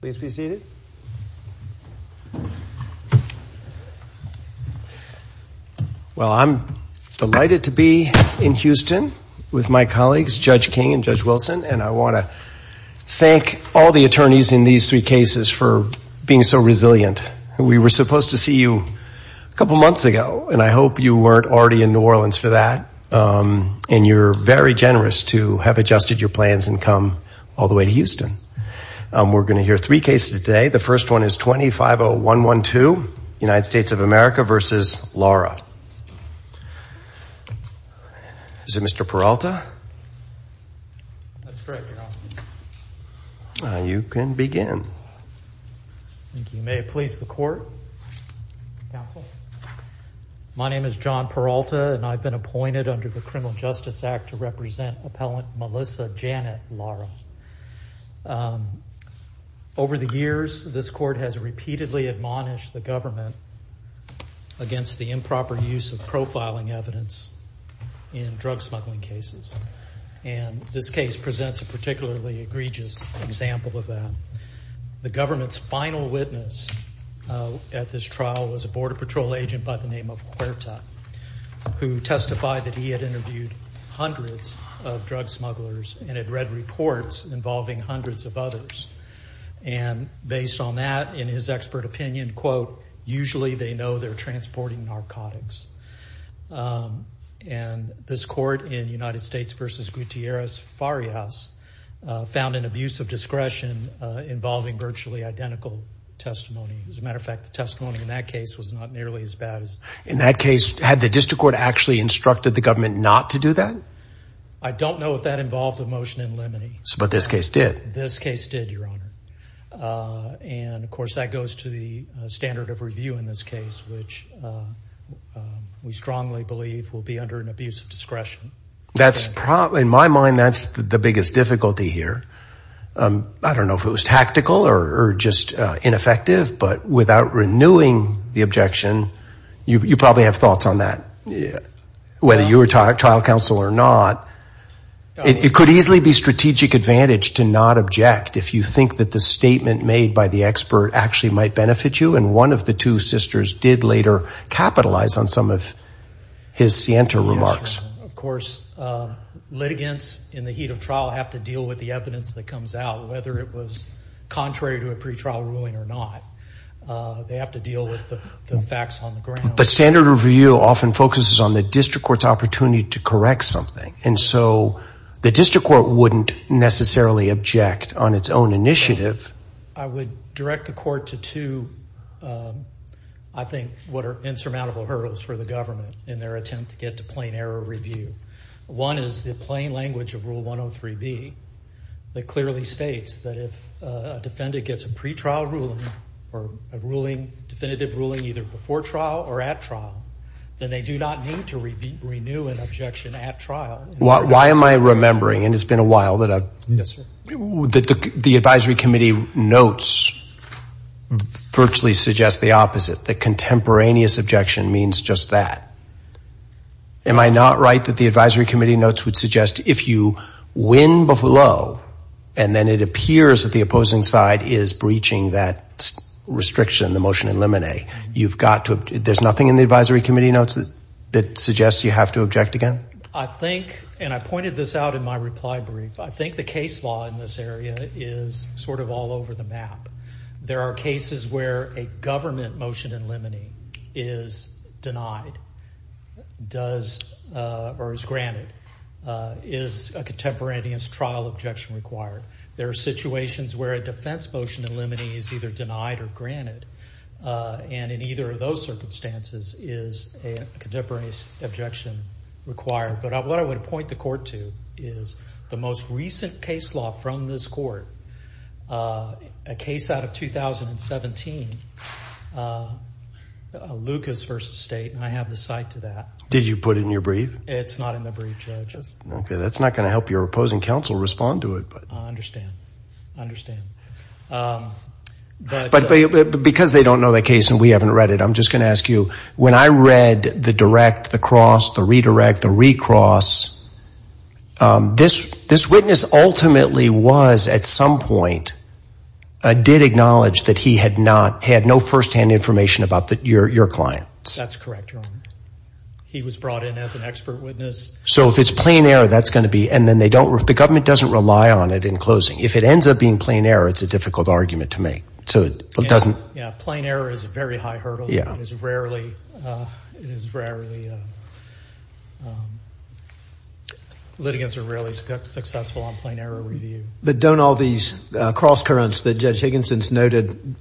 please be seated. Well I'm delighted to be in Houston with my colleagues Judge King and Judge Wilson and I want to thank all the attorneys in these three cases for being so resilient. We were supposed to see you a couple months ago and I hope you weren't already in New Orleans for that and you're very generous to have adjusted your plans and come all the way to Houston. We're going to hear three cases today. The first one is 250112 United States of America versus Lara. Is it Mr. Peralta? You can begin. You may please the court. My name is John Peralta and I've been appointed under the Criminal Justice Act to represent appellant Melissa Janet Lara. Over the years this court has repeatedly admonished the government against the improper use of profiling evidence in drug smuggling cases and this case presents a particularly egregious example of that. The government's final witness at this trial was a Border Patrol agent by the name of Huerta who testified that he had hundreds of drug smugglers and had read reports involving hundreds of others and based on that in his expert opinion quote usually they know they're transporting narcotics and this court in United States versus Gutierrez Farias found an abuse of discretion involving virtually identical testimony. As a matter of fact the testimony in that case was not nearly as bad. In that case had the district court actually instructed the government not to do that? I don't know if that involved a motion in limine. But this case did? This case did your honor and of course that goes to the standard of review in this case which we strongly believe will be under an abuse of discretion. That's probably in my mind that's the biggest difficulty here. I don't know if it was tactical or just ineffective but without renewing the objection you probably have thoughts on that. Whether you were trial counsel or not it could easily be strategic advantage to not object if you think that the statement made by the expert actually might benefit you and one of the two sisters did later capitalize on some of his scienter remarks. Of course litigants in the heat of trial have to deal with the evidence that comes out whether it was contrary to a pretrial ruling or not. They have to deal with the facts on the ground. But standard review often focuses on the district court's opportunity to correct something and so the district court wouldn't necessarily object on its own initiative. I would direct the court to two I think what are insurmountable hurdles for the government in their attempt to get to plain error review. One is the plain language of rule 103 B that clearly states that if a defendant gets a pretrial ruling or a ruling definitive ruling either before trial or at trial then they do not need to renew an objection at trial. Why am I remembering and it's been a while that the Advisory Committee notes virtually suggest the opposite the contemporaneous objection means just that. Am I not right that the Advisory Committee notes would suggest if you win below and then it appears that the opposing side is breaching that restriction the motion in the Advisory Committee notes that suggests you have to object again? I think and I pointed this out in my reply brief I think the case law in this area is sort of all over the map. There are cases where a government motion in limine is denied does or is granted is a contemporaneous trial objection required. There are situations where a defense motion in limine is either those circumstances is a contemporaneous objection required but what I would point the court to is the most recent case law from this court a case out of 2017 Lucas v. State and I have the cite to that. Did you put it in your brief? It's not in the brief judges. Okay that's not going to help your opposing counsel respond to it. I understand, I understand. But because they don't know that case and we haven't read it I'm just going to ask you when I read the direct the cross the redirect the recross this this witness ultimately was at some point did acknowledge that he had not had no firsthand information about that your clients. That's correct. He was brought in as an expert witness. So if it's plain error that's going to be and then they don't work the government doesn't rely on it in closing. If it ends up being plain error it's a difficult argument to make so it doesn't. Yeah plain error is a very high hurdle. Yeah. It is rarely, litigants are rarely successful on plain error review. But don't all these cross currents that Judge Higginson's noted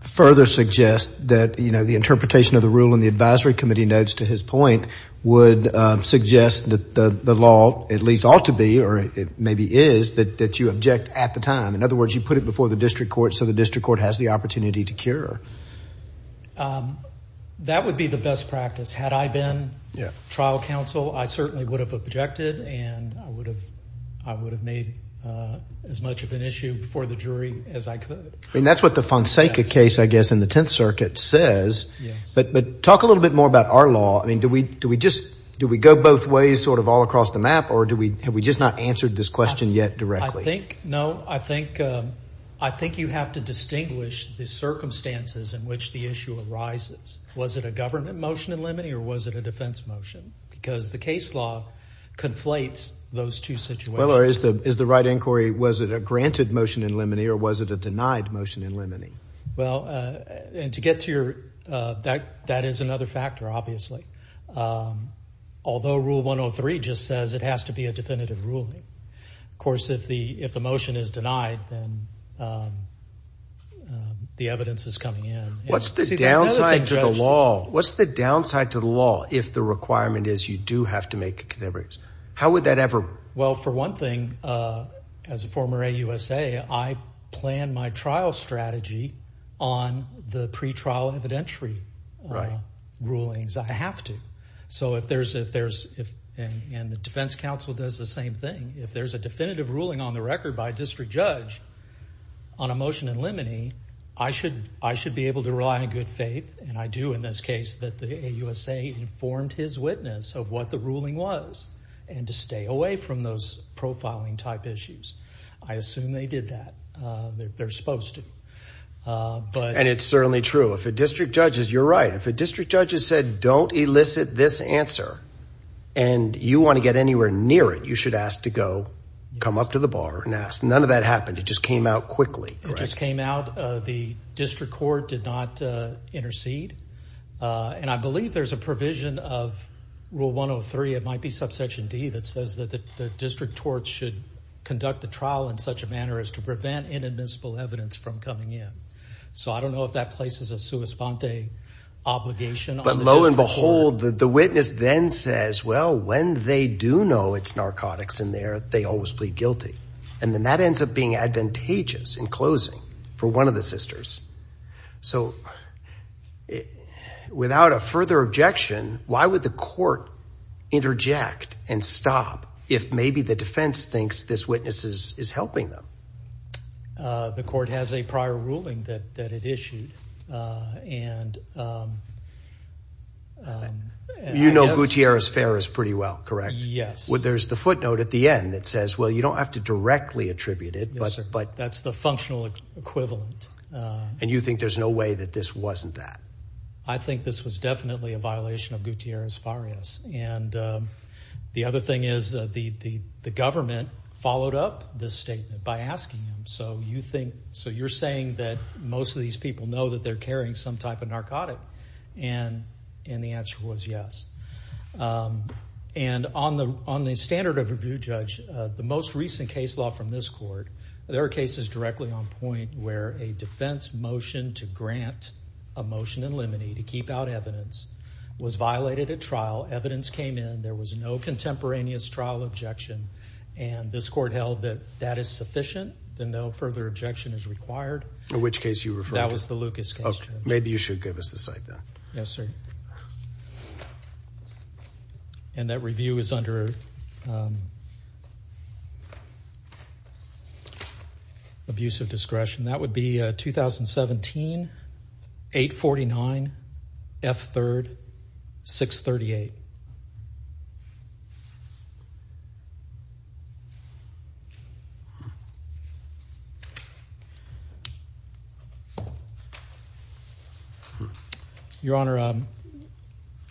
further suggest that you know the interpretation of the rule in the advisory committee notes to his point would suggest that the law at least ought to be or it maybe is that you object at the time. In other words you put it before the district court so the district court has the opportunity to cure. That would be the best practice had I been trial counsel I certainly would have objected and I would have I would have made as much of an issue before the jury as I could. I mean that's what the Fonseca case I guess in the Tenth Circuit says. But but talk a little bit more about our law. I mean do we do we just do we go both ways sort of all the way across the map or do we have we just not answered this question yet directly? I think no I think I think you have to distinguish the circumstances in which the issue arises. Was it a government motion in limine or was it a defense motion? Because the case law conflates those two situations. Is the right inquiry was it a granted motion in limine or was it a denied motion in limine? Well and to get to your that that is another factor obviously. Although rule 103 just says it has to be a definitive ruling. Of course if the if the motion is denied then the evidence is coming in. What's the downside to the law? What's the downside to the law if the requirement is you do have to make a contribution? How would that ever? Well for one thing as a former AUSA I plan my trial strategy on the pretrial evidentiary rulings. I have to. So if there's if there's if and the Defense Council does the same thing if there's a definitive ruling on the record by a district judge on a motion in limine I should I should be able to rely on good faith and I do in this case that the AUSA informed his witness of what the ruling was and to stay away from those profiling type issues. I assume they did that. They're supposed to. But and it's certainly true if a district judge is you're right if a district judge has said don't elicit this answer and you want to get anywhere near it you should ask to go come up to the bar and ask. None of that happened it just came out quickly. It just came out the district court did not intercede and I believe there's a provision of rule 103 it might be subsection D that says that the district courts should conduct the trial in such a manner as to prevent inadmissible evidence from coming in. So I don't know if that places a sua and behold the witness then says well when they do know it's narcotics in there they always plead guilty and then that ends up being advantageous in closing for one of the sisters. So without a further objection why would the court interject and stop if maybe the defense thinks this witness is helping them? The court has a prior ruling that that it issued and you know Gutierrez Farias pretty well correct? Yes. Well there's the footnote at the end that says well you don't have to directly attribute it but but that's the functional equivalent. And you think there's no way that this wasn't that? I think this was definitely a violation of Gutierrez Farias and the other thing is the the government followed up this statement by asking him so you think so you're saying that most of these people know that they're carrying some type of narcotic and and the answer was yes. And on the on the standard of review judge the most recent case law from this court there are cases directly on point where a defense motion to grant a motion in limine to keep out evidence was violated at trial evidence came in there was no contemporaneous trial objection and this court held that that is sufficient then no further objection is required. In which case you refer? That was the Lucas case. Maybe you should give us the site then. Yes sir. And that review is under abusive discretion. That would be 2017 849 F 3rd 638. Your honor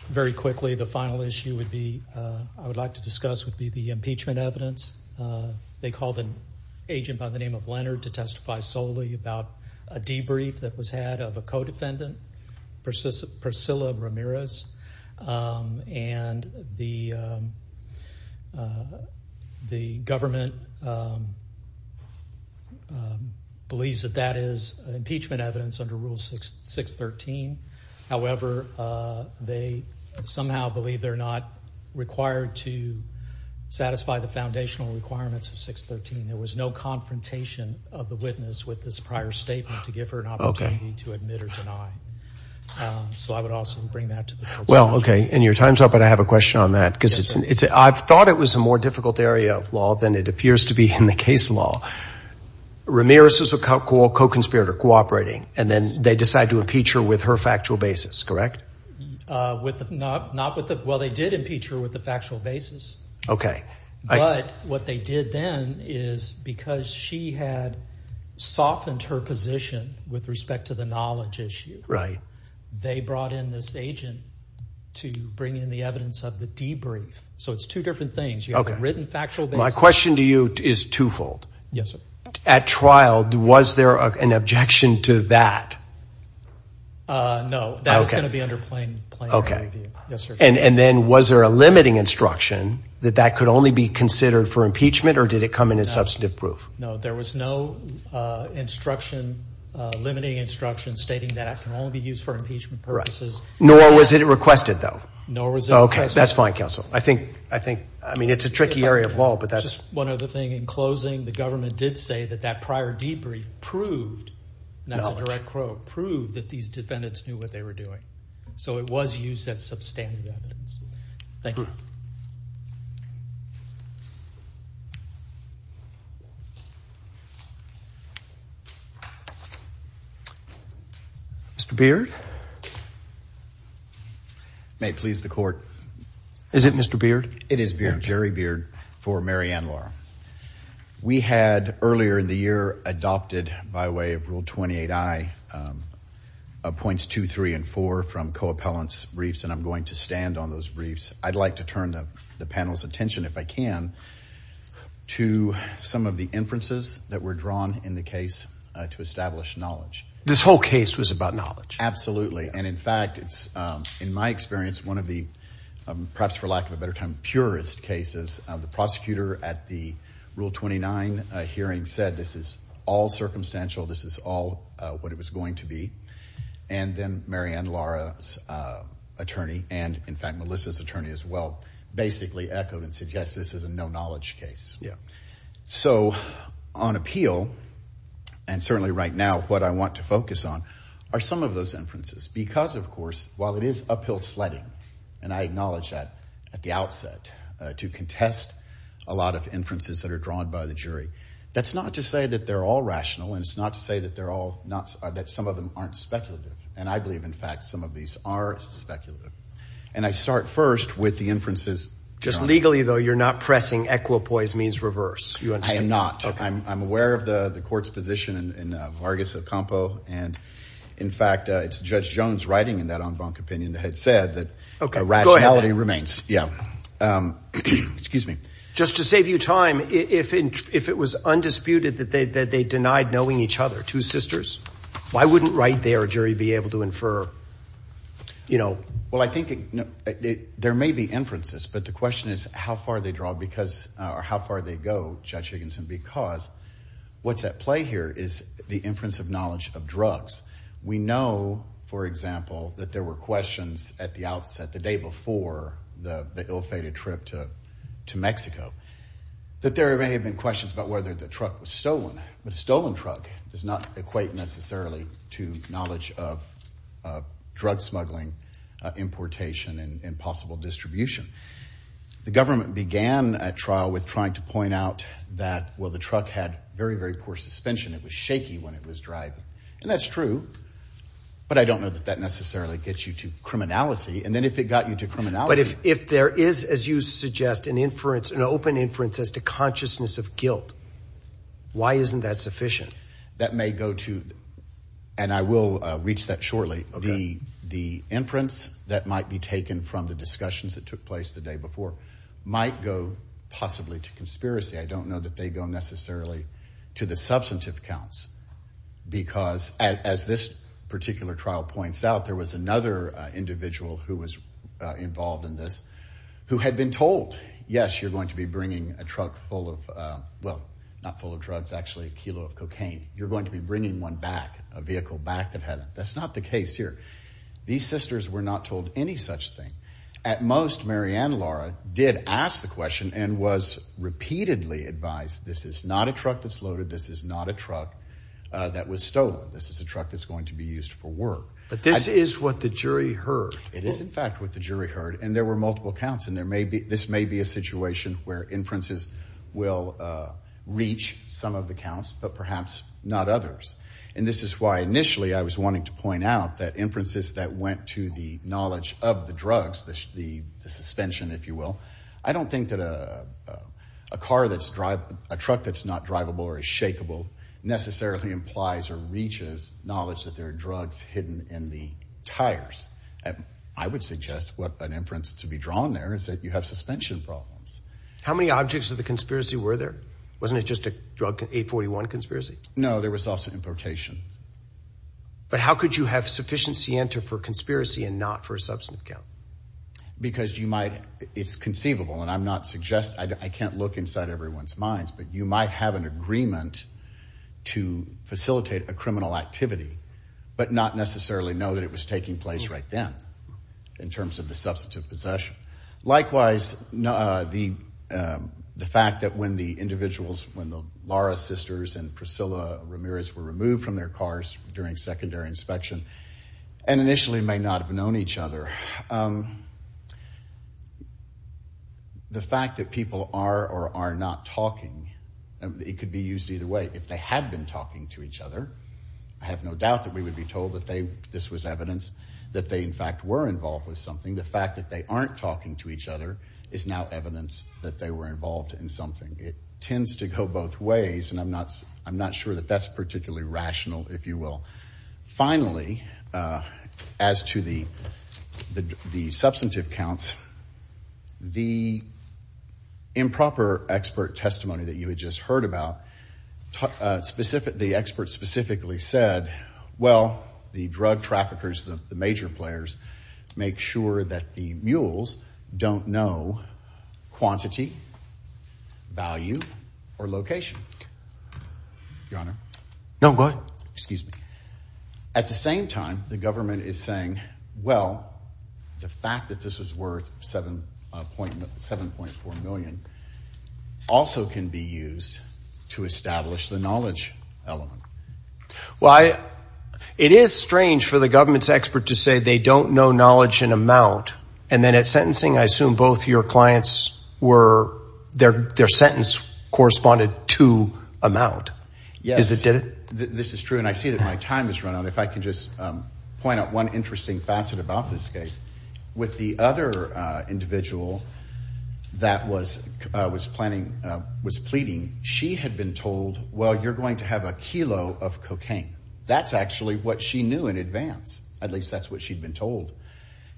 very quickly the final issue would be I would like to discuss would be impeachment evidence. They called an agent by the name of Leonard to testify solely about a debrief that was had of a co-defendant Priscilla Ramirez and the the government believes that that is impeachment evidence under rule 613. However they somehow believe they're not required to satisfy the foundational requirements of 613. There was no confrontation of the witness with this prior statement to give her an opportunity to admit or deny. So I would also bring that to the court. Well okay and your time's up but I have a question on that because it's it's I've thought it was a more difficult area of law than it appears to be in the case law. Ramirez is a co-conspirator cooperating and then they decide to impeach her with her factual basis correct? With not not with the well they did impeach her with the factual basis. Okay. But what they did then is because she had softened her position with respect to the knowledge issue. Right. They brought in this agent to bring in the evidence of the debrief. So it's two different things. Okay. Written factual. My question to you is twofold. Yes sir. At trial was there an objection to that? No. Okay. And then was there a limiting instruction that that could only be considered for impeachment or did it come in as substantive proof? No there was no instruction limiting instruction stating that it can only be used for impeachment purposes. Nor was it requested though? No. Okay that's fine counsel. I think I think I mean it's a the government did say that that prior debrief proved, that's a direct quote, proved that these defendants knew what they were doing. So it was used as substantive evidence. Thank you. Mr. Beard. May it please the court. Is it Mr. Beard? It is Jerry Beard for We had earlier in the year adopted by way of Rule 28i points 2, 3, and 4 from co-appellants briefs and I'm going to stand on those briefs. I'd like to turn the panel's attention if I can to some of the inferences that were drawn in the case to establish knowledge. This whole case was about knowledge? Absolutely and in fact it's in my experience one of the perhaps for lack of a better term purest cases of the prosecutor at the Rule 29 hearing said this is all circumstantial. This is all what it was going to be and then Mary Ann Lara's attorney and in fact Melissa's attorney as well basically echoed and suggests this is a no-knowledge case. Yeah. So on appeal and certainly right now what I want to focus on are some of those inferences because of course while it is to contest a lot of inferences that are drawn by the jury that's not to say that they're all rational and it's not to say that they're all not that some of them aren't speculative and I believe in fact some of these are speculative and I start first with the inferences. Just legally though you're not pressing equipoise means reverse. I am not. I'm aware of the the court's position in Vargas Ocampo and in fact it's Judge Jones writing in that en banc opinion had said that rationality remains. Yeah. Excuse me. Just to save you time if it was undisputed that they denied knowing each other, two sisters, why wouldn't right there a jury be able to infer you know. Well I think there may be inferences but the question is how far they draw because or how far they go Judge Higginson because what's at play here is the inference of knowledge of at the outset the day before the ill-fated trip to to Mexico that there may have been questions about whether the truck was stolen but a stolen truck does not equate necessarily to knowledge of drug smuggling importation and possible distribution. The government began a trial with trying to point out that well the truck had very very poor suspension it was shaky when it was driving and that's true but I don't know that that necessarily gets you to criminality and then if it got you to criminality. But if if there is as you suggest an inference an open inference as to consciousness of guilt why isn't that sufficient? That may go to and I will reach that shortly. Okay. The inference that might be taken from the discussions that took place the day before might go possibly to conspiracy I don't know that they go necessarily to the substantive counts because as this particular trial points out there was another individual who was involved in this who had been told yes you're going to be bringing a truck full of well not full of drugs actually a kilo of cocaine you're going to be bringing one back a vehicle back that hadn't that's not the case here these sisters were not told any such thing at most Mary and Laura did ask the question and was repeatedly advised this is not a truck that's loaded this is not a truck that was stolen this is a truck that's going to be used for work but this is what the jury heard it is in fact what the jury heard and there were multiple counts and there may be this may be a situation where inferences will reach some of the counts but perhaps not others and this is why initially I was wanting to point out that inferences that went to the knowledge of the drugs the suspension if you will I don't think that a car that's drive a truck that's not drivable or a shakable necessarily implies or reaches knowledge that there are drugs hidden in the tires and I would suggest what an inference to be drawn there is that you have suspension problems how many objects of the conspiracy were there wasn't it just a drug 841 conspiracy no there was also importation but how could you have sufficiency enter for conspiracy and not for a substantive count because you might it's conceivable and I'm not suggest I can't look inside everyone's minds but you might have an agreement to but not necessarily know that it was taking place right then in terms of the substantive possession likewise no the the fact that when the individuals when the Laura sisters and Priscilla Ramirez were removed from their cars during secondary inspection and initially may not have known each other the fact that people are or are not talking and it could be used either way if they had been talking to each other I have no doubt that we would be told that they this was evidence that they in fact were involved with something the fact that they aren't talking to each other is now evidence that they were involved in something it tends to go both ways and I'm not I'm not sure that that's particularly rational if you will finally as to the the substantive counts the improper expert testimony that you had just heard about specific the expert specifically said well the drug traffickers the major players make sure that the mules don't know quantity value or location your honor no good excuse me at the same time the government is saying well the fact that this is worth seven point seven point four million also can be used to establish the knowledge element why it is strange for the government's expert to say they don't know knowledge in amount and then at sentencing I assume both your clients were their their sentence corresponded to amount yes it did it this is true and I see that my time is run out if I can just point out one interesting facet about this case with the other individual that was was planning was pleading she had been told well you're going to have a kilo of cocaine that's actually what she knew in advance at least that's what she'd been told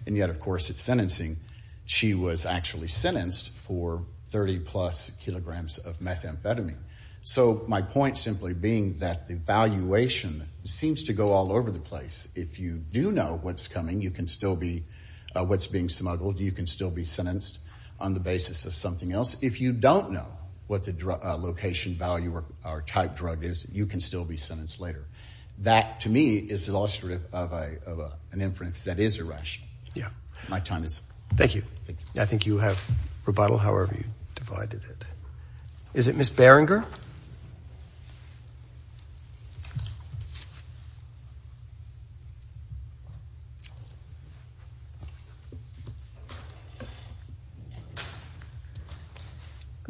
and yet of course it's sentencing she was actually sentenced for 30 plus kilograms of methamphetamine so my point simply being that the valuation seems to go all over the place if you do know what's coming you can still be what's being smuggled you can still be sentenced on the basis of something else if you don't know what the location value or type drug is you can still be sentenced later that to me is illustrative of an inference that is a rush yeah my time is thank you I think you have rebuttal however you divided it is it miss good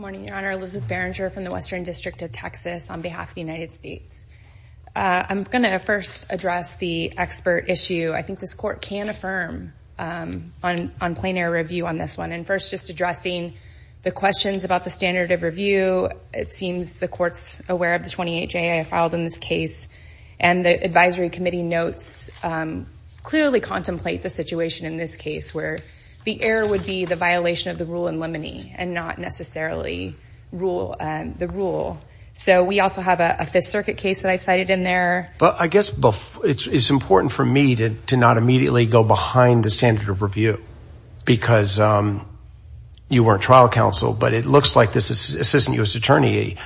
morning your honor Elizabeth Berenger from the Western District of Texas on behalf of the United States I'm gonna first address the expert issue I think this court can affirm on on plenary review on this one and first just addressing the questions about the standard of review it seems the courts aware of the 28 J I filed in this case and the Advisory Committee notes clearly contemplate the situation in this case where the error would be the violation of the rule in lemony and not necessarily rule and the rule so we also have a Fifth Circuit case that I cited in there but I guess both it's important for me to not immediately go behind the standard of review because you weren't trial counsel but it looks like this is assistant U.S. attorney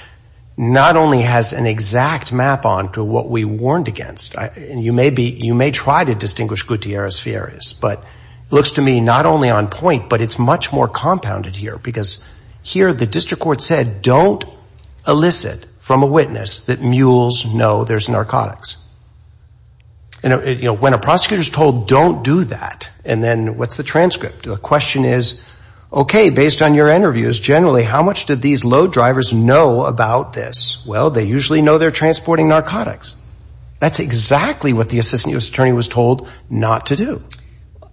not only has an exact map on to what we warned against and you may be you may try to distinguish Gutierrez Fieras but looks to me not only on point but it's much more compounded here because here the district court said don't elicit from a witness that mules know there's narcotics you know when a prosecutor is told don't do that and then what's the transcript the question is okay based on your interviews generally how much did these low drivers know about this well they usually know they're transporting narcotics that's exactly what the assistant U.S. attorney was told not to do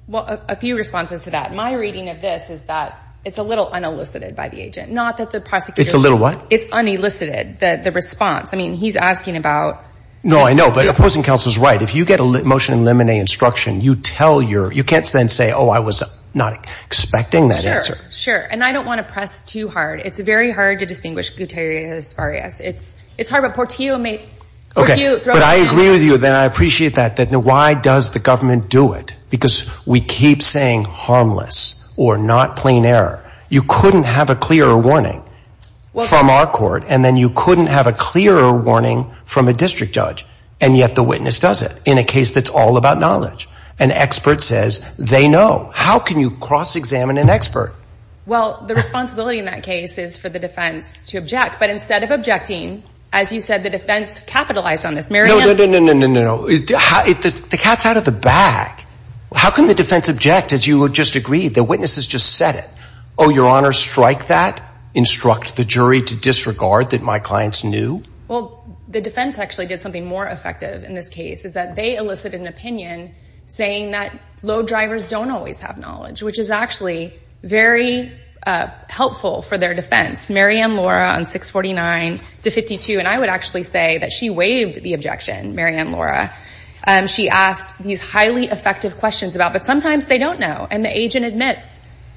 well a few responses to that my reading of this is that it's a little unelicited by the agent not that the prosecutor it's a little what it's unelicited that the response I mean he's asking about no I know but opposing counsels right if you get a motion in lemonade instruction you tell your you can't then say oh I was not expecting that answer sure and I don't want to press too hard it's very hard to distinguish Gutierrez Farias it's it's hard but Portillo may okay but I agree with you then I appreciate that that the why does the government do it because we keep saying harmless or not plain error you couldn't have a clearer warning well from our court and then you couldn't have a clearer warning from a district judge and yet the witness does it in a case that's all about knowledge an can you cross-examine an expert well the responsibility in that case is for the defense to object but instead of objecting as you said the defense capitalized on this Mary no no no no the cat's out of the bag how can the defense object as you would just agree the witnesses just said it oh your honor strike that instruct the jury to disregard that my clients knew well the defense actually did something more effective in this case is that they which is actually very helpful for their defense Marianne Laura on 649 to 52 and I would actually say that she waived the objection Marianne Laura and she asked these highly effective questions about but sometimes they don't know and the agent admits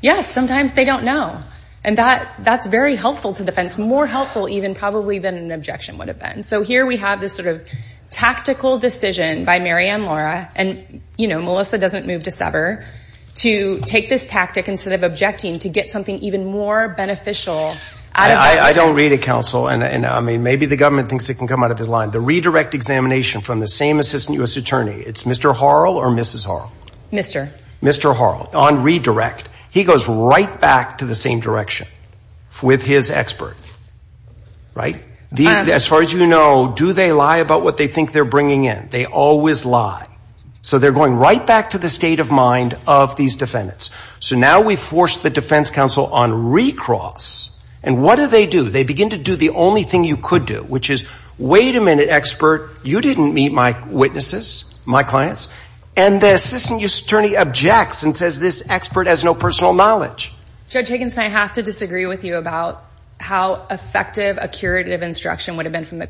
yes sometimes they don't know and that that's very helpful to defense more helpful even probably than an objection would have been so here we have this sort of tactical decision by Marianne Laura and you know Melissa doesn't move to sever to take this tactic instead of objecting to get something even more beneficial I don't read it counsel and I mean maybe the government thinks it can come out of his line the redirect examination from the same assistant US Attorney it's mr. Harrell or mrs. are mr. mr. Harrell on redirect he goes right back to the same direction with his expert right the as far as you know do they lie about what they think they're bringing in they always lie so they're going right back to the state of mind of these defendants so now we force the defense counsel on recross and what do they do they begin to do the only thing you could do which is wait a minute expert you didn't meet my witnesses my clients and the assistant US Attorney objects and says this expert has no personal knowledge judge Higgins I have to disagree with you about how effective a curative instruction would have been from the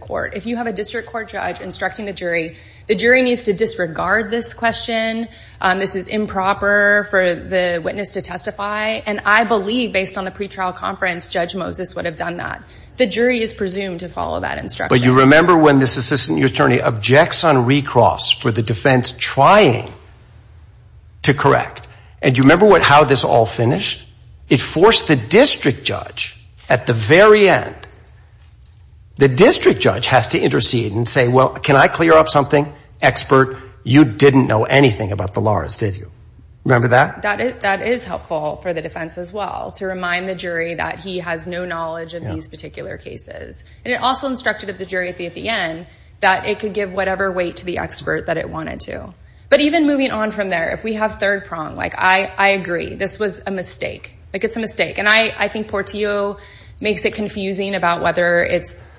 jury the jury needs to disregard this question this is improper for the witness to testify and I believe based on the pretrial conference judge Moses would have done that the jury is presumed to follow that instruction you remember when this assistant US Attorney objects on recross for the defense trying to correct and you remember what how this all finished it forced the district judge at the very end the district judge has to intercede and say well can I clear up something expert you didn't know anything about the laws did you remember that that is helpful for the defense as well to remind the jury that he has no knowledge of these particular cases and it also instructed at the jury at the at the end that it could give whatever weight to the expert that it wanted to but even moving on from there if we have third prong like I I agree this was a mistake like it's a mistake and I I think Portillo makes it confusing about whether it's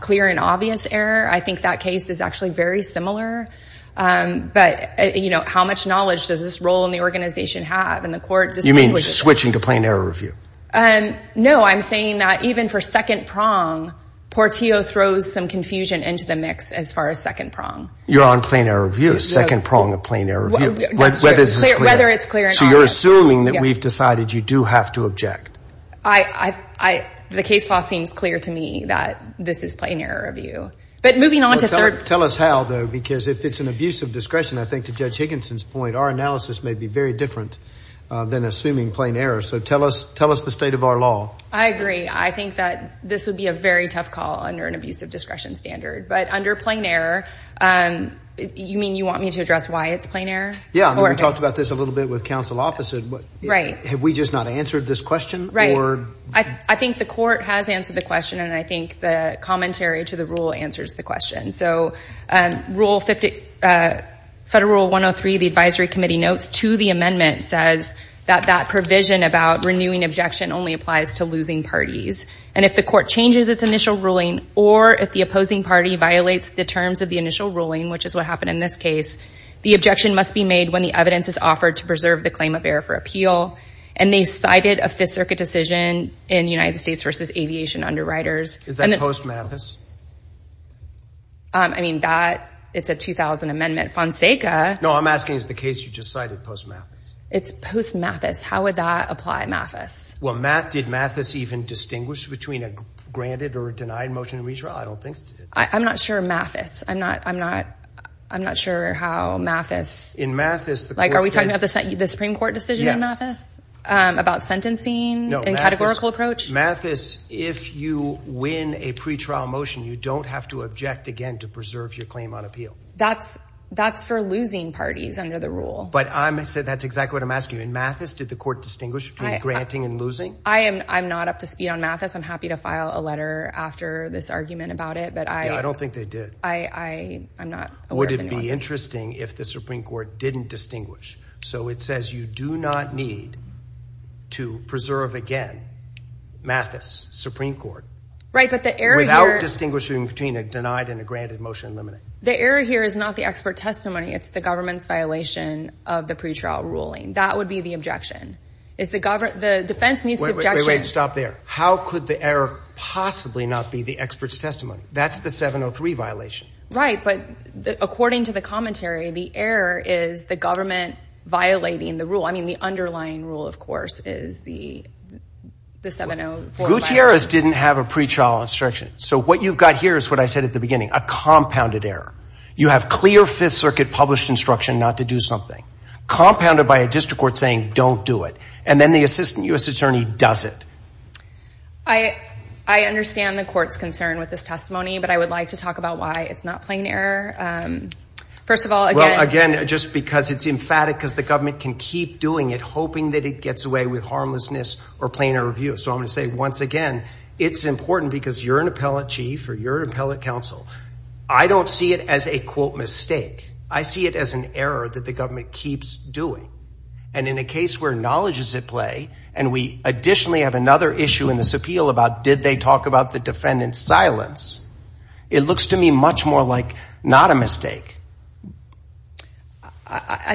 clear and obvious error I think that case is actually very similar but you know how much knowledge does this role in the organization have and the court you mean switching to plain error review and no I'm saying that even for second prong Portillo throws some confusion into the mix as far as second prong you're on plain error view second prong of plain error whether it's clear so you're assuming that we've decided you do have to object I I the case law seems clear to me that this is plain error of you but moving on to third tell us how though because if it's an abuse of discretion I think to judge Higginson's point our analysis may be very different than assuming plain error so tell us tell us the state of our law I agree I think that this would be a very tough call under an abuse of discretion standard but under plain error and you mean you want me to address why it's plain error yeah we talked about this a little bit with counsel opposite right have we just not answered this question right I think the court has answered the question and I think the commentary to the rule answers the question so rule 50 federal 103 the Advisory Committee notes to the amendment says that that provision about renewing objection only applies to losing parties and if the court changes its initial ruling or if the opposing party violates the terms of the initial ruling which is what happened in this case the objection must be made when the evidence is offered to preserve the appeal and they cited a Fifth Circuit decision in the United States versus aviation underwriters is that post Mathis I mean that it's a 2000 amendment Fonseca no I'm asking is the case you just cited post Mathis it's post Mathis how would that apply Mathis well Matt did Mathis even distinguish between a granted or denied motion to redraw I don't think I'm not sure Mathis I'm not I'm not I'm not sure how Mathis in Mathis like are we talking about the Supreme Court decision in Mathis about sentencing no categorical approach Mathis if you win a pretrial motion you don't have to object again to preserve your claim on appeal that's that's for losing parties under the rule but I'm gonna say that's exactly what I'm asking in Mathis did the court distinguish between granting and losing I am I'm not up to speed on Mathis I'm happy to file a letter after this argument about it but I don't think they did I I'm not would it be interesting if the Supreme Court didn't distinguish so it says you do not need to preserve again Mathis Supreme Court right but the error without distinguishing between a denied and a granted motion eliminate the error here is not the expert testimony it's the government's violation of the pretrial ruling that would be the objection is the government the defense needs to stop there how could the error possibly not be the experts testimony that's the 703 violation right but according to the rule I mean the underlying rule of course is the Gutierrez didn't have a pretrial instruction so what you've got here is what I said at the beginning a compounded error you have clear Fifth Circuit published instruction not to do something compounded by a district court saying don't do it and then the assistant US Attorney does it I I understand the courts concern with this testimony but I would like to talk about why it's not plain error first of all again just because it's emphatic because the government can keep doing it hoping that it gets away with harmlessness or plainer review so I'm gonna say once again it's important because you're an appellate chief or your appellate counsel I don't see it as a quote mistake I see it as an error that the government keeps doing and in a case where knowledge is at play and we additionally have another issue in this appeal about did they talk about the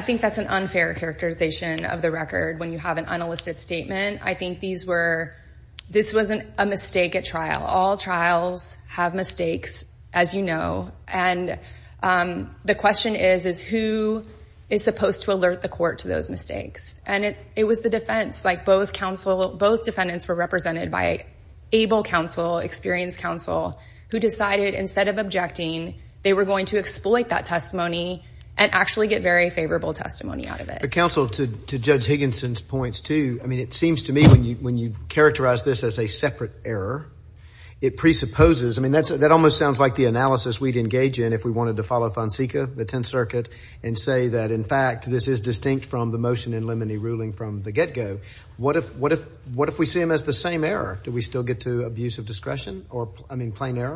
I think that's an unfair characterization of the record when you have an unlisted statement I think these were this wasn't a mistake at trial all trials have mistakes as you know and the question is is who is supposed to alert the court to those mistakes and it it was the defense like both counsel both defendants were represented by able counsel experienced counsel who decided instead of objecting they were going to exploit that testimony and actually get very favorable testimony out of it the council to judge Higginson's points to I mean it seems to me when you when you characterize this as a separate error it presupposes I mean that's that almost sounds like the analysis we'd engage in if we wanted to follow Fonseca the Tenth Circuit and say that in fact this is distinct from the motion in limine ruling from the get-go what if what if what if we see him as the same error do we still get to abuse of discretion or I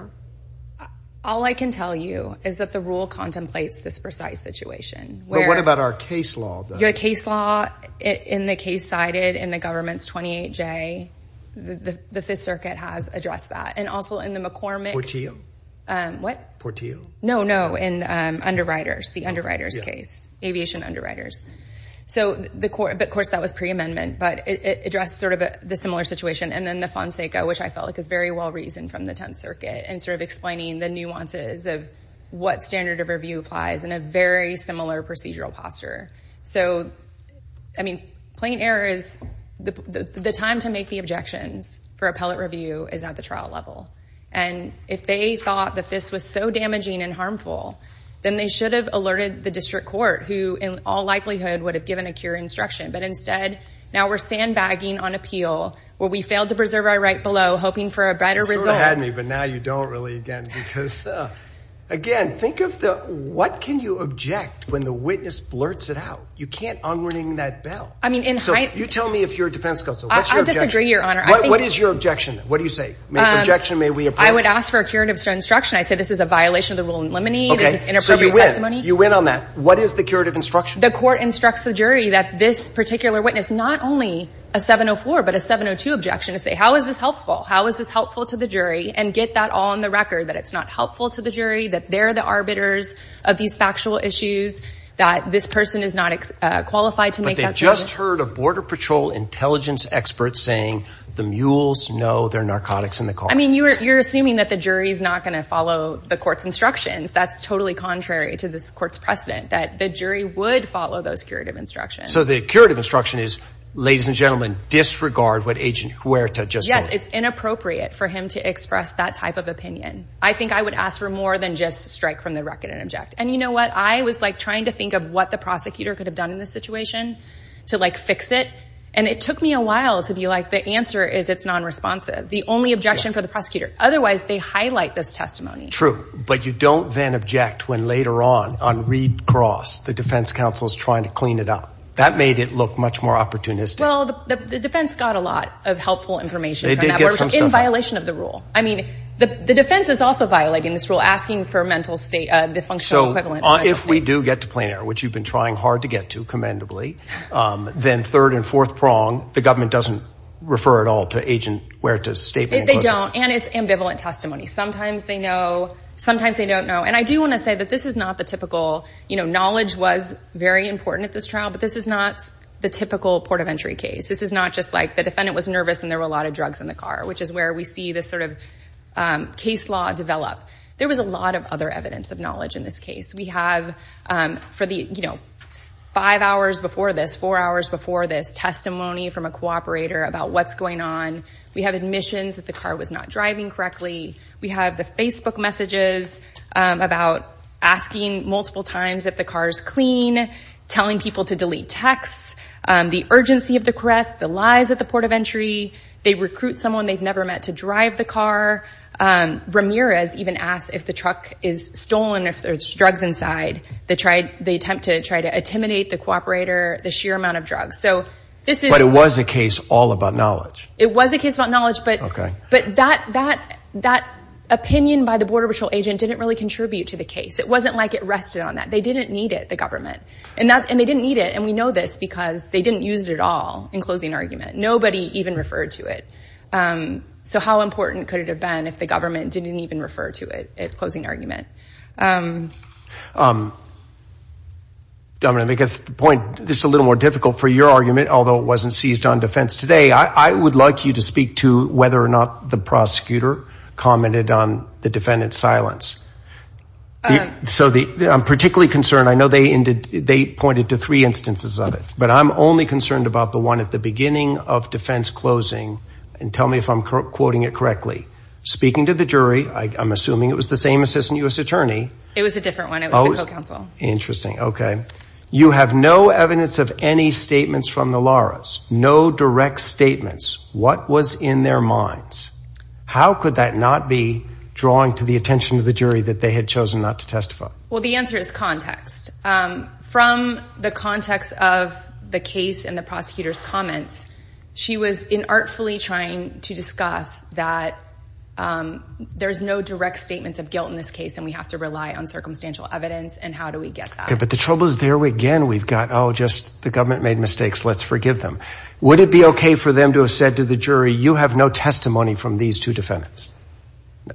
all I can tell you is that the rule contemplates this precise situation what about our case law your case law in the case cited in the government's 28 J the the Fifth Circuit has addressed that and also in the McCormick to you what Portillo no no in underwriters the underwriters case aviation underwriters so the court of course that was pre-amendment but it addressed sort of a similar situation and then the Fonseca which I felt like is very well reasoned from the Tenth Circuit and sort of explaining the nuances of what standard of review applies in a very similar procedural posture so I mean plain error is the time to make the objections for appellate review is at the trial level and if they thought that this was so damaging and harmful then they should have alerted the district court who in all likelihood would have given a cure instruction but instead now we're sandbagging on appeal where we failed to a better result had me but now you don't really again because again think of the what can you object when the witness blurts it out you can't on winning that bill I mean in height you tell me if you're a defense counsel I disagree your honor what is your objection what do you say objection may we if I would ask for a curative instruction I said this is a violation of the rule in limine this is inappropriate testimony you win on that what is the curative instruction the court instructs the jury that this particular witness not only a 704 but a 702 objection to say how is this helpful how is this helpful to the jury and get that on the record that it's not helpful to the jury that they're the arbiters of these factual issues that this person is not qualified to make just heard a Border Patrol intelligence experts saying the mules know their narcotics in the car I mean you're assuming that the jury is not going to follow the court's instructions that's totally contrary to this courts precedent that the jury would follow those curative instruction so the curative instruction is ladies and inappropriate for him to express that type of opinion I think I would ask for more than just strike from the record and object and you know what I was like trying to think of what the prosecutor could have done in this situation to like fix it and it took me a while to be like the answer is it's non-responsive the only objection for the prosecutor otherwise they highlight this testimony true but you don't then object when later on on read cross the defense counsel is trying to clean it up that made it look much more opportunistic the defense got a lot of helpful information in violation of the rule I mean the defense is also violating this rule asking for mental state of the function so if we do get to planar which you've been trying hard to get to commendably then third and fourth prong the government doesn't refer at all to agent where to stay they don't and it's ambivalent testimony sometimes they know sometimes they don't know and I do want to say that this is not the typical you know knowledge was very important at this trial but this is not the typical port of entry case this is not just like the defendant was nervous and there were a lot of drugs in the car which is where we see this sort of case law develop there was a lot of other evidence of knowledge in this case we have for the you know five hours before this four hours before this testimony from a cooperator about what's going on we have admissions that the car was not driving correctly we have the Facebook messages about asking multiple times if the car is clean telling people to delete texts the urgency of the crest the lies at the port of entry they recruit someone they've never met to drive the car Ramirez even asked if the truck is stolen if there's drugs inside they tried they attempt to try to intimidate the cooperator the sheer amount of drugs so this is what it was a case all about knowledge it was a case about knowledge but okay but that that that opinion by the Border Patrol agent didn't really contribute to the case it wasn't like it rested on that they didn't need it the government and that's and they didn't need it and we know this because they didn't use it at all in closing argument nobody even referred to it so how important could it have been if the government didn't even refer to it it's closing argument Dominic gets the point this is a little more difficult for your argument although it wasn't seized on defense today I would like you to speak to whether or not the prosecutor commented on the defendant's silence so the I'm concerned I know they ended they pointed to three instances of it but I'm only concerned about the one at the beginning of defense closing and tell me if I'm quoting it correctly speaking to the jury I'm assuming it was the same assistant US Attorney it was a different one Oh counsel interesting okay you have no evidence of any statements from the Laura's no direct statements what was in their minds how could that not be drawing to the attention of the jury that they had chosen not to testify well the answer is context from the context of the case and the prosecutors comments she was in artfully trying to discuss that there's no direct statements of guilt in this case and we have to rely on circumstantial evidence and how do we get that but the trouble is there again we've got oh just the government made mistakes let's forgive them would it be okay for them to have said to the jury you have no testimony from these two defendants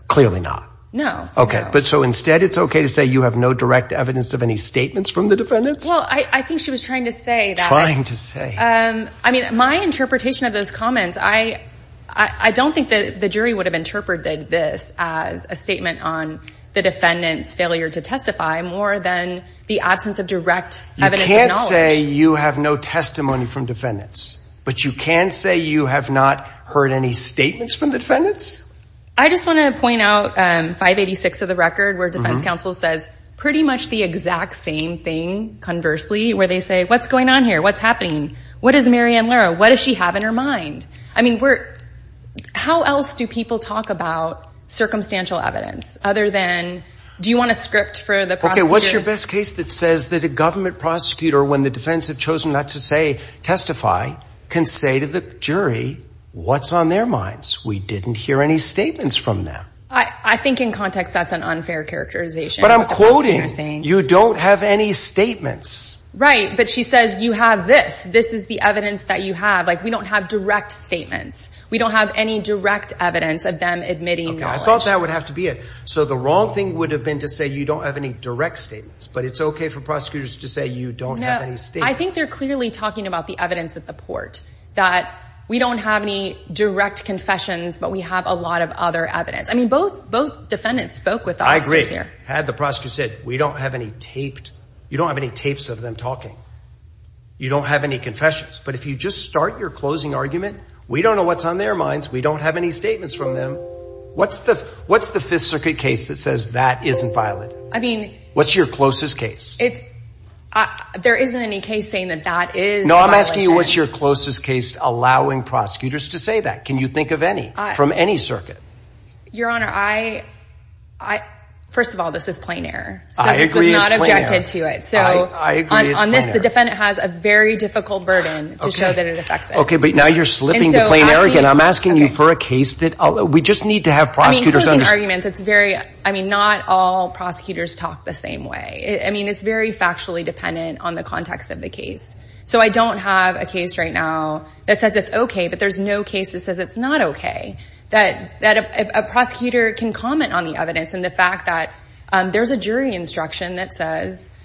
clearly not no okay but so instead it's okay to say you have no direct evidence of any statements from the defendants well I think she was trying to say that I'm trying to say I mean my interpretation of those comments I I don't think that the jury would have interpreted this as a statement on the defendants failure to testify more than the absence of direct you can't say you have no testimony from defendants but you can't say you have not heard any statements from the defendants I just want to point out 586 of the record where defense counsel says pretty much the exact same thing conversely where they say what's going on here what's happening what is Marianne Lara what does she have in her mind I mean we're how else do people talk about circumstantial evidence other than do you want a script for the pocket what's your best case that says that a government prosecutor when the defense have chosen not to say testify can say to the jury what's on their minds we didn't hear any statements from them I I think in context that's an unfair characterization but I'm quoting saying you don't have any statements right but she says you have this this is the evidence that you have like we don't have direct statements we don't have any direct evidence of them admitting I thought that would have to be it so the wrong thing would have been to say you don't have any direct statements but it's okay for prosecutors to say you don't know I think they're clearly talking about the evidence at the port that we don't have any direct confessions but we have a lot of other evidence I mean both both defendants spoke with I agree here had the prosecutor said we don't have any taped you don't have any tapes of them talking you don't have any confessions but if you just start your closing argument we don't know what's on their minds we don't have any statements from them what's the what's the Fifth Circuit case that says that isn't violent I mean what's your closest case it's there isn't any case saying that that is no I'm asking you what's your closest case allowing prosecutors to say that can you think of any from any circuit your honor I I first of all this is plain air I agree not objected to it so I agree on this the defendant has a very difficult burden okay but now you're slipping the plane arrogant I'm asking you for a case that although we just need to have prosecutors arguments it's very I mean not all prosecutors talk the same way I mean it's very factually dependent on the context of the case so I don't have a case right now that says it's okay but there's no case that says it's not okay that that a prosecutor can comment on the evidence and the fact that there's a jury instruction that says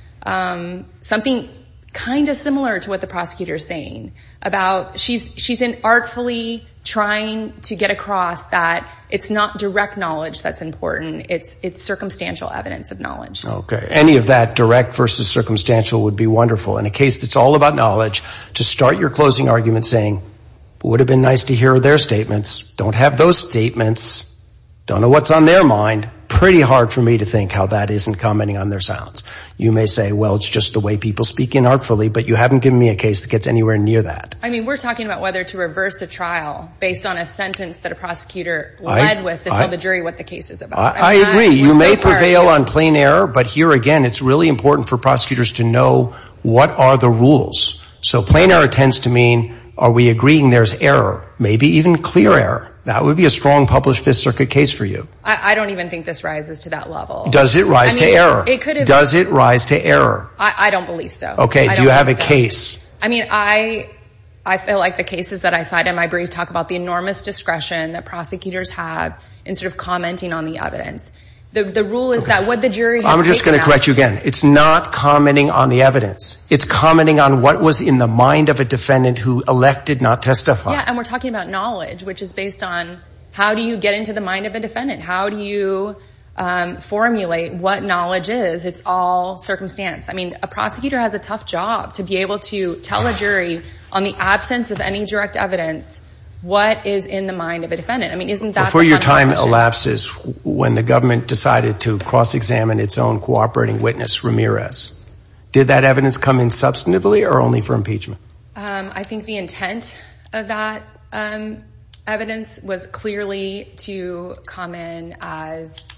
something kind of similar to what the prosecutor is saying about she's she's in artfully trying to get across that it's not direct knowledge that's important it's it's circumstantial evidence of knowledge okay any of that direct versus circumstantial would be wonderful in a case that's all about knowledge to start your closing argument saying would have been nice to hear their statements don't have those statements don't know what's on their mind pretty hard for me to think how that isn't commenting on their sounds you may say well it's just the way people speak in artfully but you haven't given me a case that gets anywhere near that I mean we're talking about whether to reverse a trial based on a sentence that a prosecutor I agree you may prevail on plain error but here again it's really important for prosecutors to know what are the rules so plain error tends to mean are we agreeing there's error maybe even clear error that would be a strong published Fifth Circuit case for you I don't even think this rises to that level does it rise to error it could it does it rise to error I don't believe so okay do you have a case I mean I I feel like the cases that I have in sort of commenting on the evidence the rule is that what the jury I'm just gonna correct you again it's not commenting on the evidence it's commenting on what was in the mind of a defendant who elected not testify and we're talking about knowledge which is based on how do you get into the mind of a defendant how do you formulate what knowledge is it's all circumstance I mean a prosecutor has a tough job to be able to tell a jury on the absence of any direct evidence what is in the mind of a defendant I mean isn't that for your time elapses when the government decided to cross-examine its own cooperating witness Ramirez did that evidence come in substantively or only for impeachment I think the intent of that evidence was clearly to come in as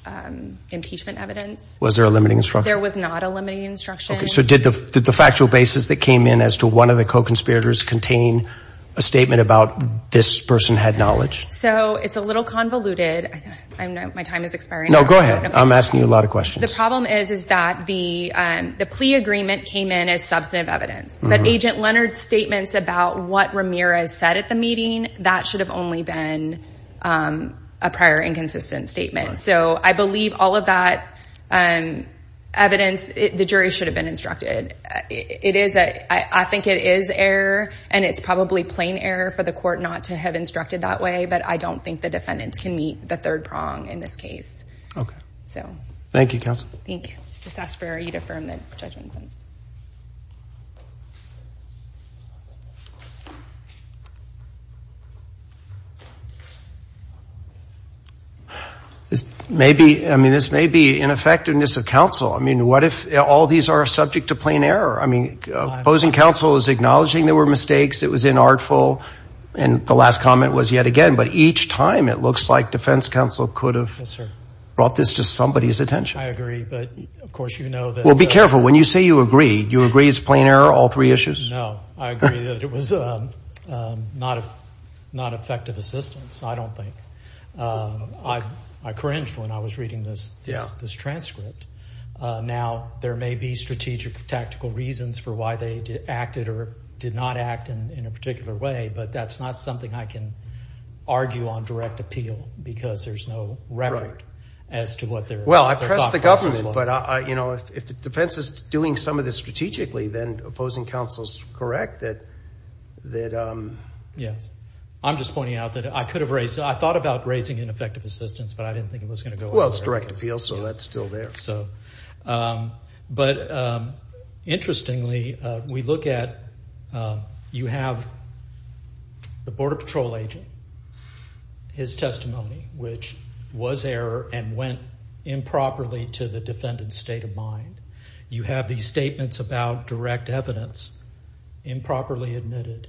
impeachment evidence was there a limiting structure there was not a limiting instruction so did the factual basis that came in as to one of the co spiriters contain a statement about this person had knowledge so it's a little convoluted I know my time is expiring no go ahead I'm asking you a lot of questions the problem is is that the the plea agreement came in as substantive evidence but agent Leonard's statements about what Ramirez said at the meeting that should have only been a prior inconsistent statement so I believe all of that and evidence the jury should have been instructed it is a I think it is error and it's probably plain error for the court not to have instructed that way but I don't think the defendants can meet the third prong in this case okay so thank you counsel I think just ask for you to firm the judgments and this may be I mean this may be ineffectiveness of counsel I mean what if all these are subject to plain error I mean opposing counsel is acknowledging there were mistakes it was inartful and the last comment was yet again but each time it looks like defense counsel could have brought this to somebody's attention I agree but of course you know that we'll be careful when you say you agree you agree it's plain error all three issues no I agree that it was not a not effective assistance I don't think I I cringed when I was reading this this transcript now there may be strategic tactical reasons for why they acted or did not act in a particular way but that's not something I can argue on direct appeal because there's no record as to what they're well I press the government but I you know if the defense is doing some of this strategically then opposing counsel's correct that that yes I'm just pointing out that I could have raised I thought about raising ineffective assistance but I didn't think it was going to go well it's direct appeal so that's still there so but interestingly we look at you have the Border Patrol agent his testimony which was error and went improperly to the defendant's state of mind you have these statements about direct evidence improperly admitted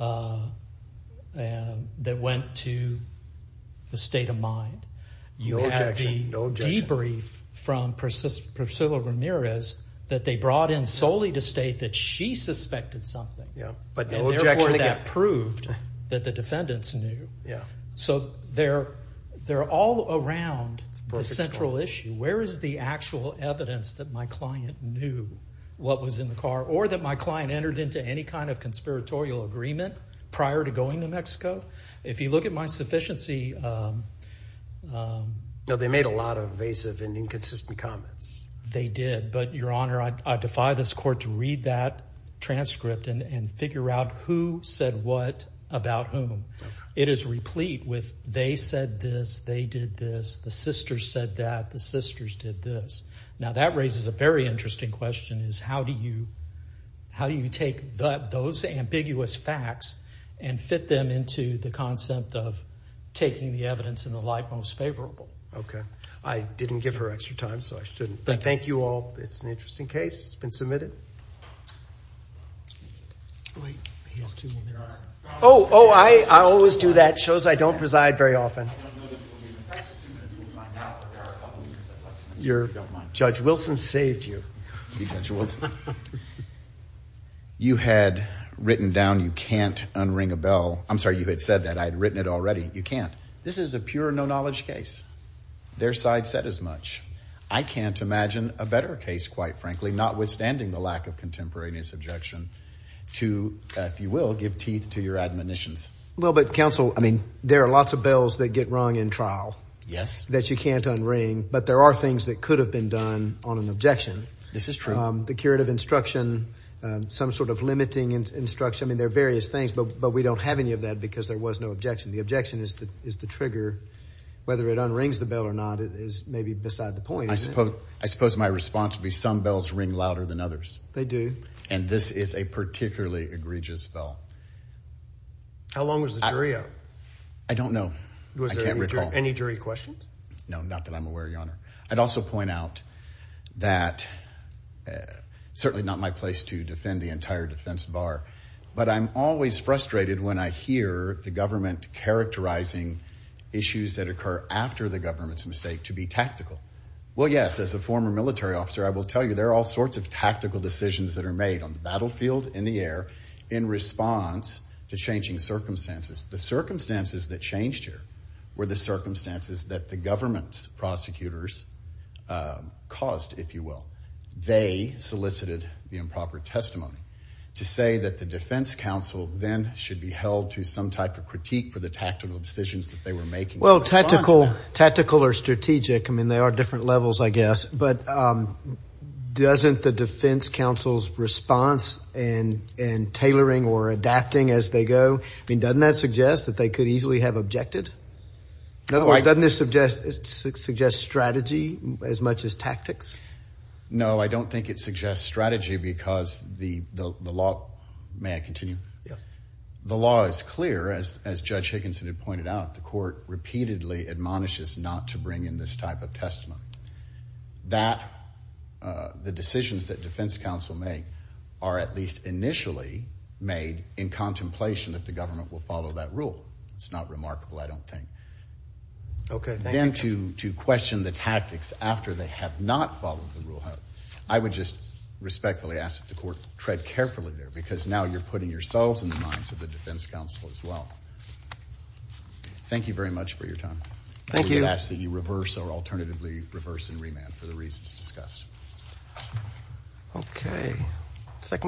and that went to the state of mind you have the debrief from Priscilla Ramirez that they brought in solely to state that she suspected something yeah but that proved that the defendants knew yeah so they're they're all around the central issue where is the actual evidence that my client knew what was in the car or that my client entered into any kind of conspiratorial agreement prior to going to Mexico if you at my sufficiency no they made a lot of evasive and inconsistent comments they did but your honor I defy this court to read that transcript and figure out who said what about whom it is replete with they said this they did this the sisters said that the sisters did this now that raises a very interesting question is how do you how do you take that those ambiguous facts and fit them into the of taking the evidence in the light most favorable okay I didn't give her extra time so I shouldn't thank you all it's an interesting case it's been submitted oh oh I always do that shows I don't preside very often your judge Wilson saved you you had written down you can't unring a bell I'm sorry you had said that I had written it already you can't this is a pure no-knowledge case their side said as much I can't imagine a better case quite frankly not withstanding the lack of contemporaneous objection to if you will give teeth to your admonitions a little bit counsel I mean there are lots of bells that get wrong in trial yes that you can't unring but there are things that could have been done on an objection this is true the curative instruction some sort of limiting instruction I mean there are various things but but we don't have any of that because there was no objection the objection is that is the trigger whether it unrings the bell or not it is maybe beside the point I suppose I suppose my response to be some bells ring louder than others they do and this is a particularly egregious spell how long was the jury up I don't know was there any jury questions no not that I'm aware your honor I'd also point out that certainly not my place to defend the entire defense bar but I'm always frustrated when I hear the government characterizing issues that occur after the government's mistake to be tactical well yes as a former military officer I will tell you there are all sorts of tactical decisions that are made on the battlefield in the air in response to changing circumstances the circumstances that changed here were the circumstances that the government's prosecutors caused if you will they solicited the improper testimony to say that the defense counsel then should be held to some type of critique for the tactical decisions that they were making well tactical tactical or strategic I mean they are different levels I guess but doesn't the defense counsel's response and and tailoring or adapting as they go I mean doesn't that suggest that they could easily have objected no I don't this suggest it suggests strategy as much as tactics no I don't think it suggests strategy because the the law may I continue the law is clear as Judge Higginson had pointed out the court repeatedly admonishes not to bring in this type of testimony that the decisions that defense counsel make are at least initially made in contemplation that the government will follow that rule it's not remarkable I don't think okay then to to question the tactics after they have not followed the rule I would just respectfully ask that the court tread carefully there because now you're putting yourselves in the minds of the defense counsel as well thank you very much for your time thank you actually you reverse or alternatively reverse and remand for the reasons discussed okay second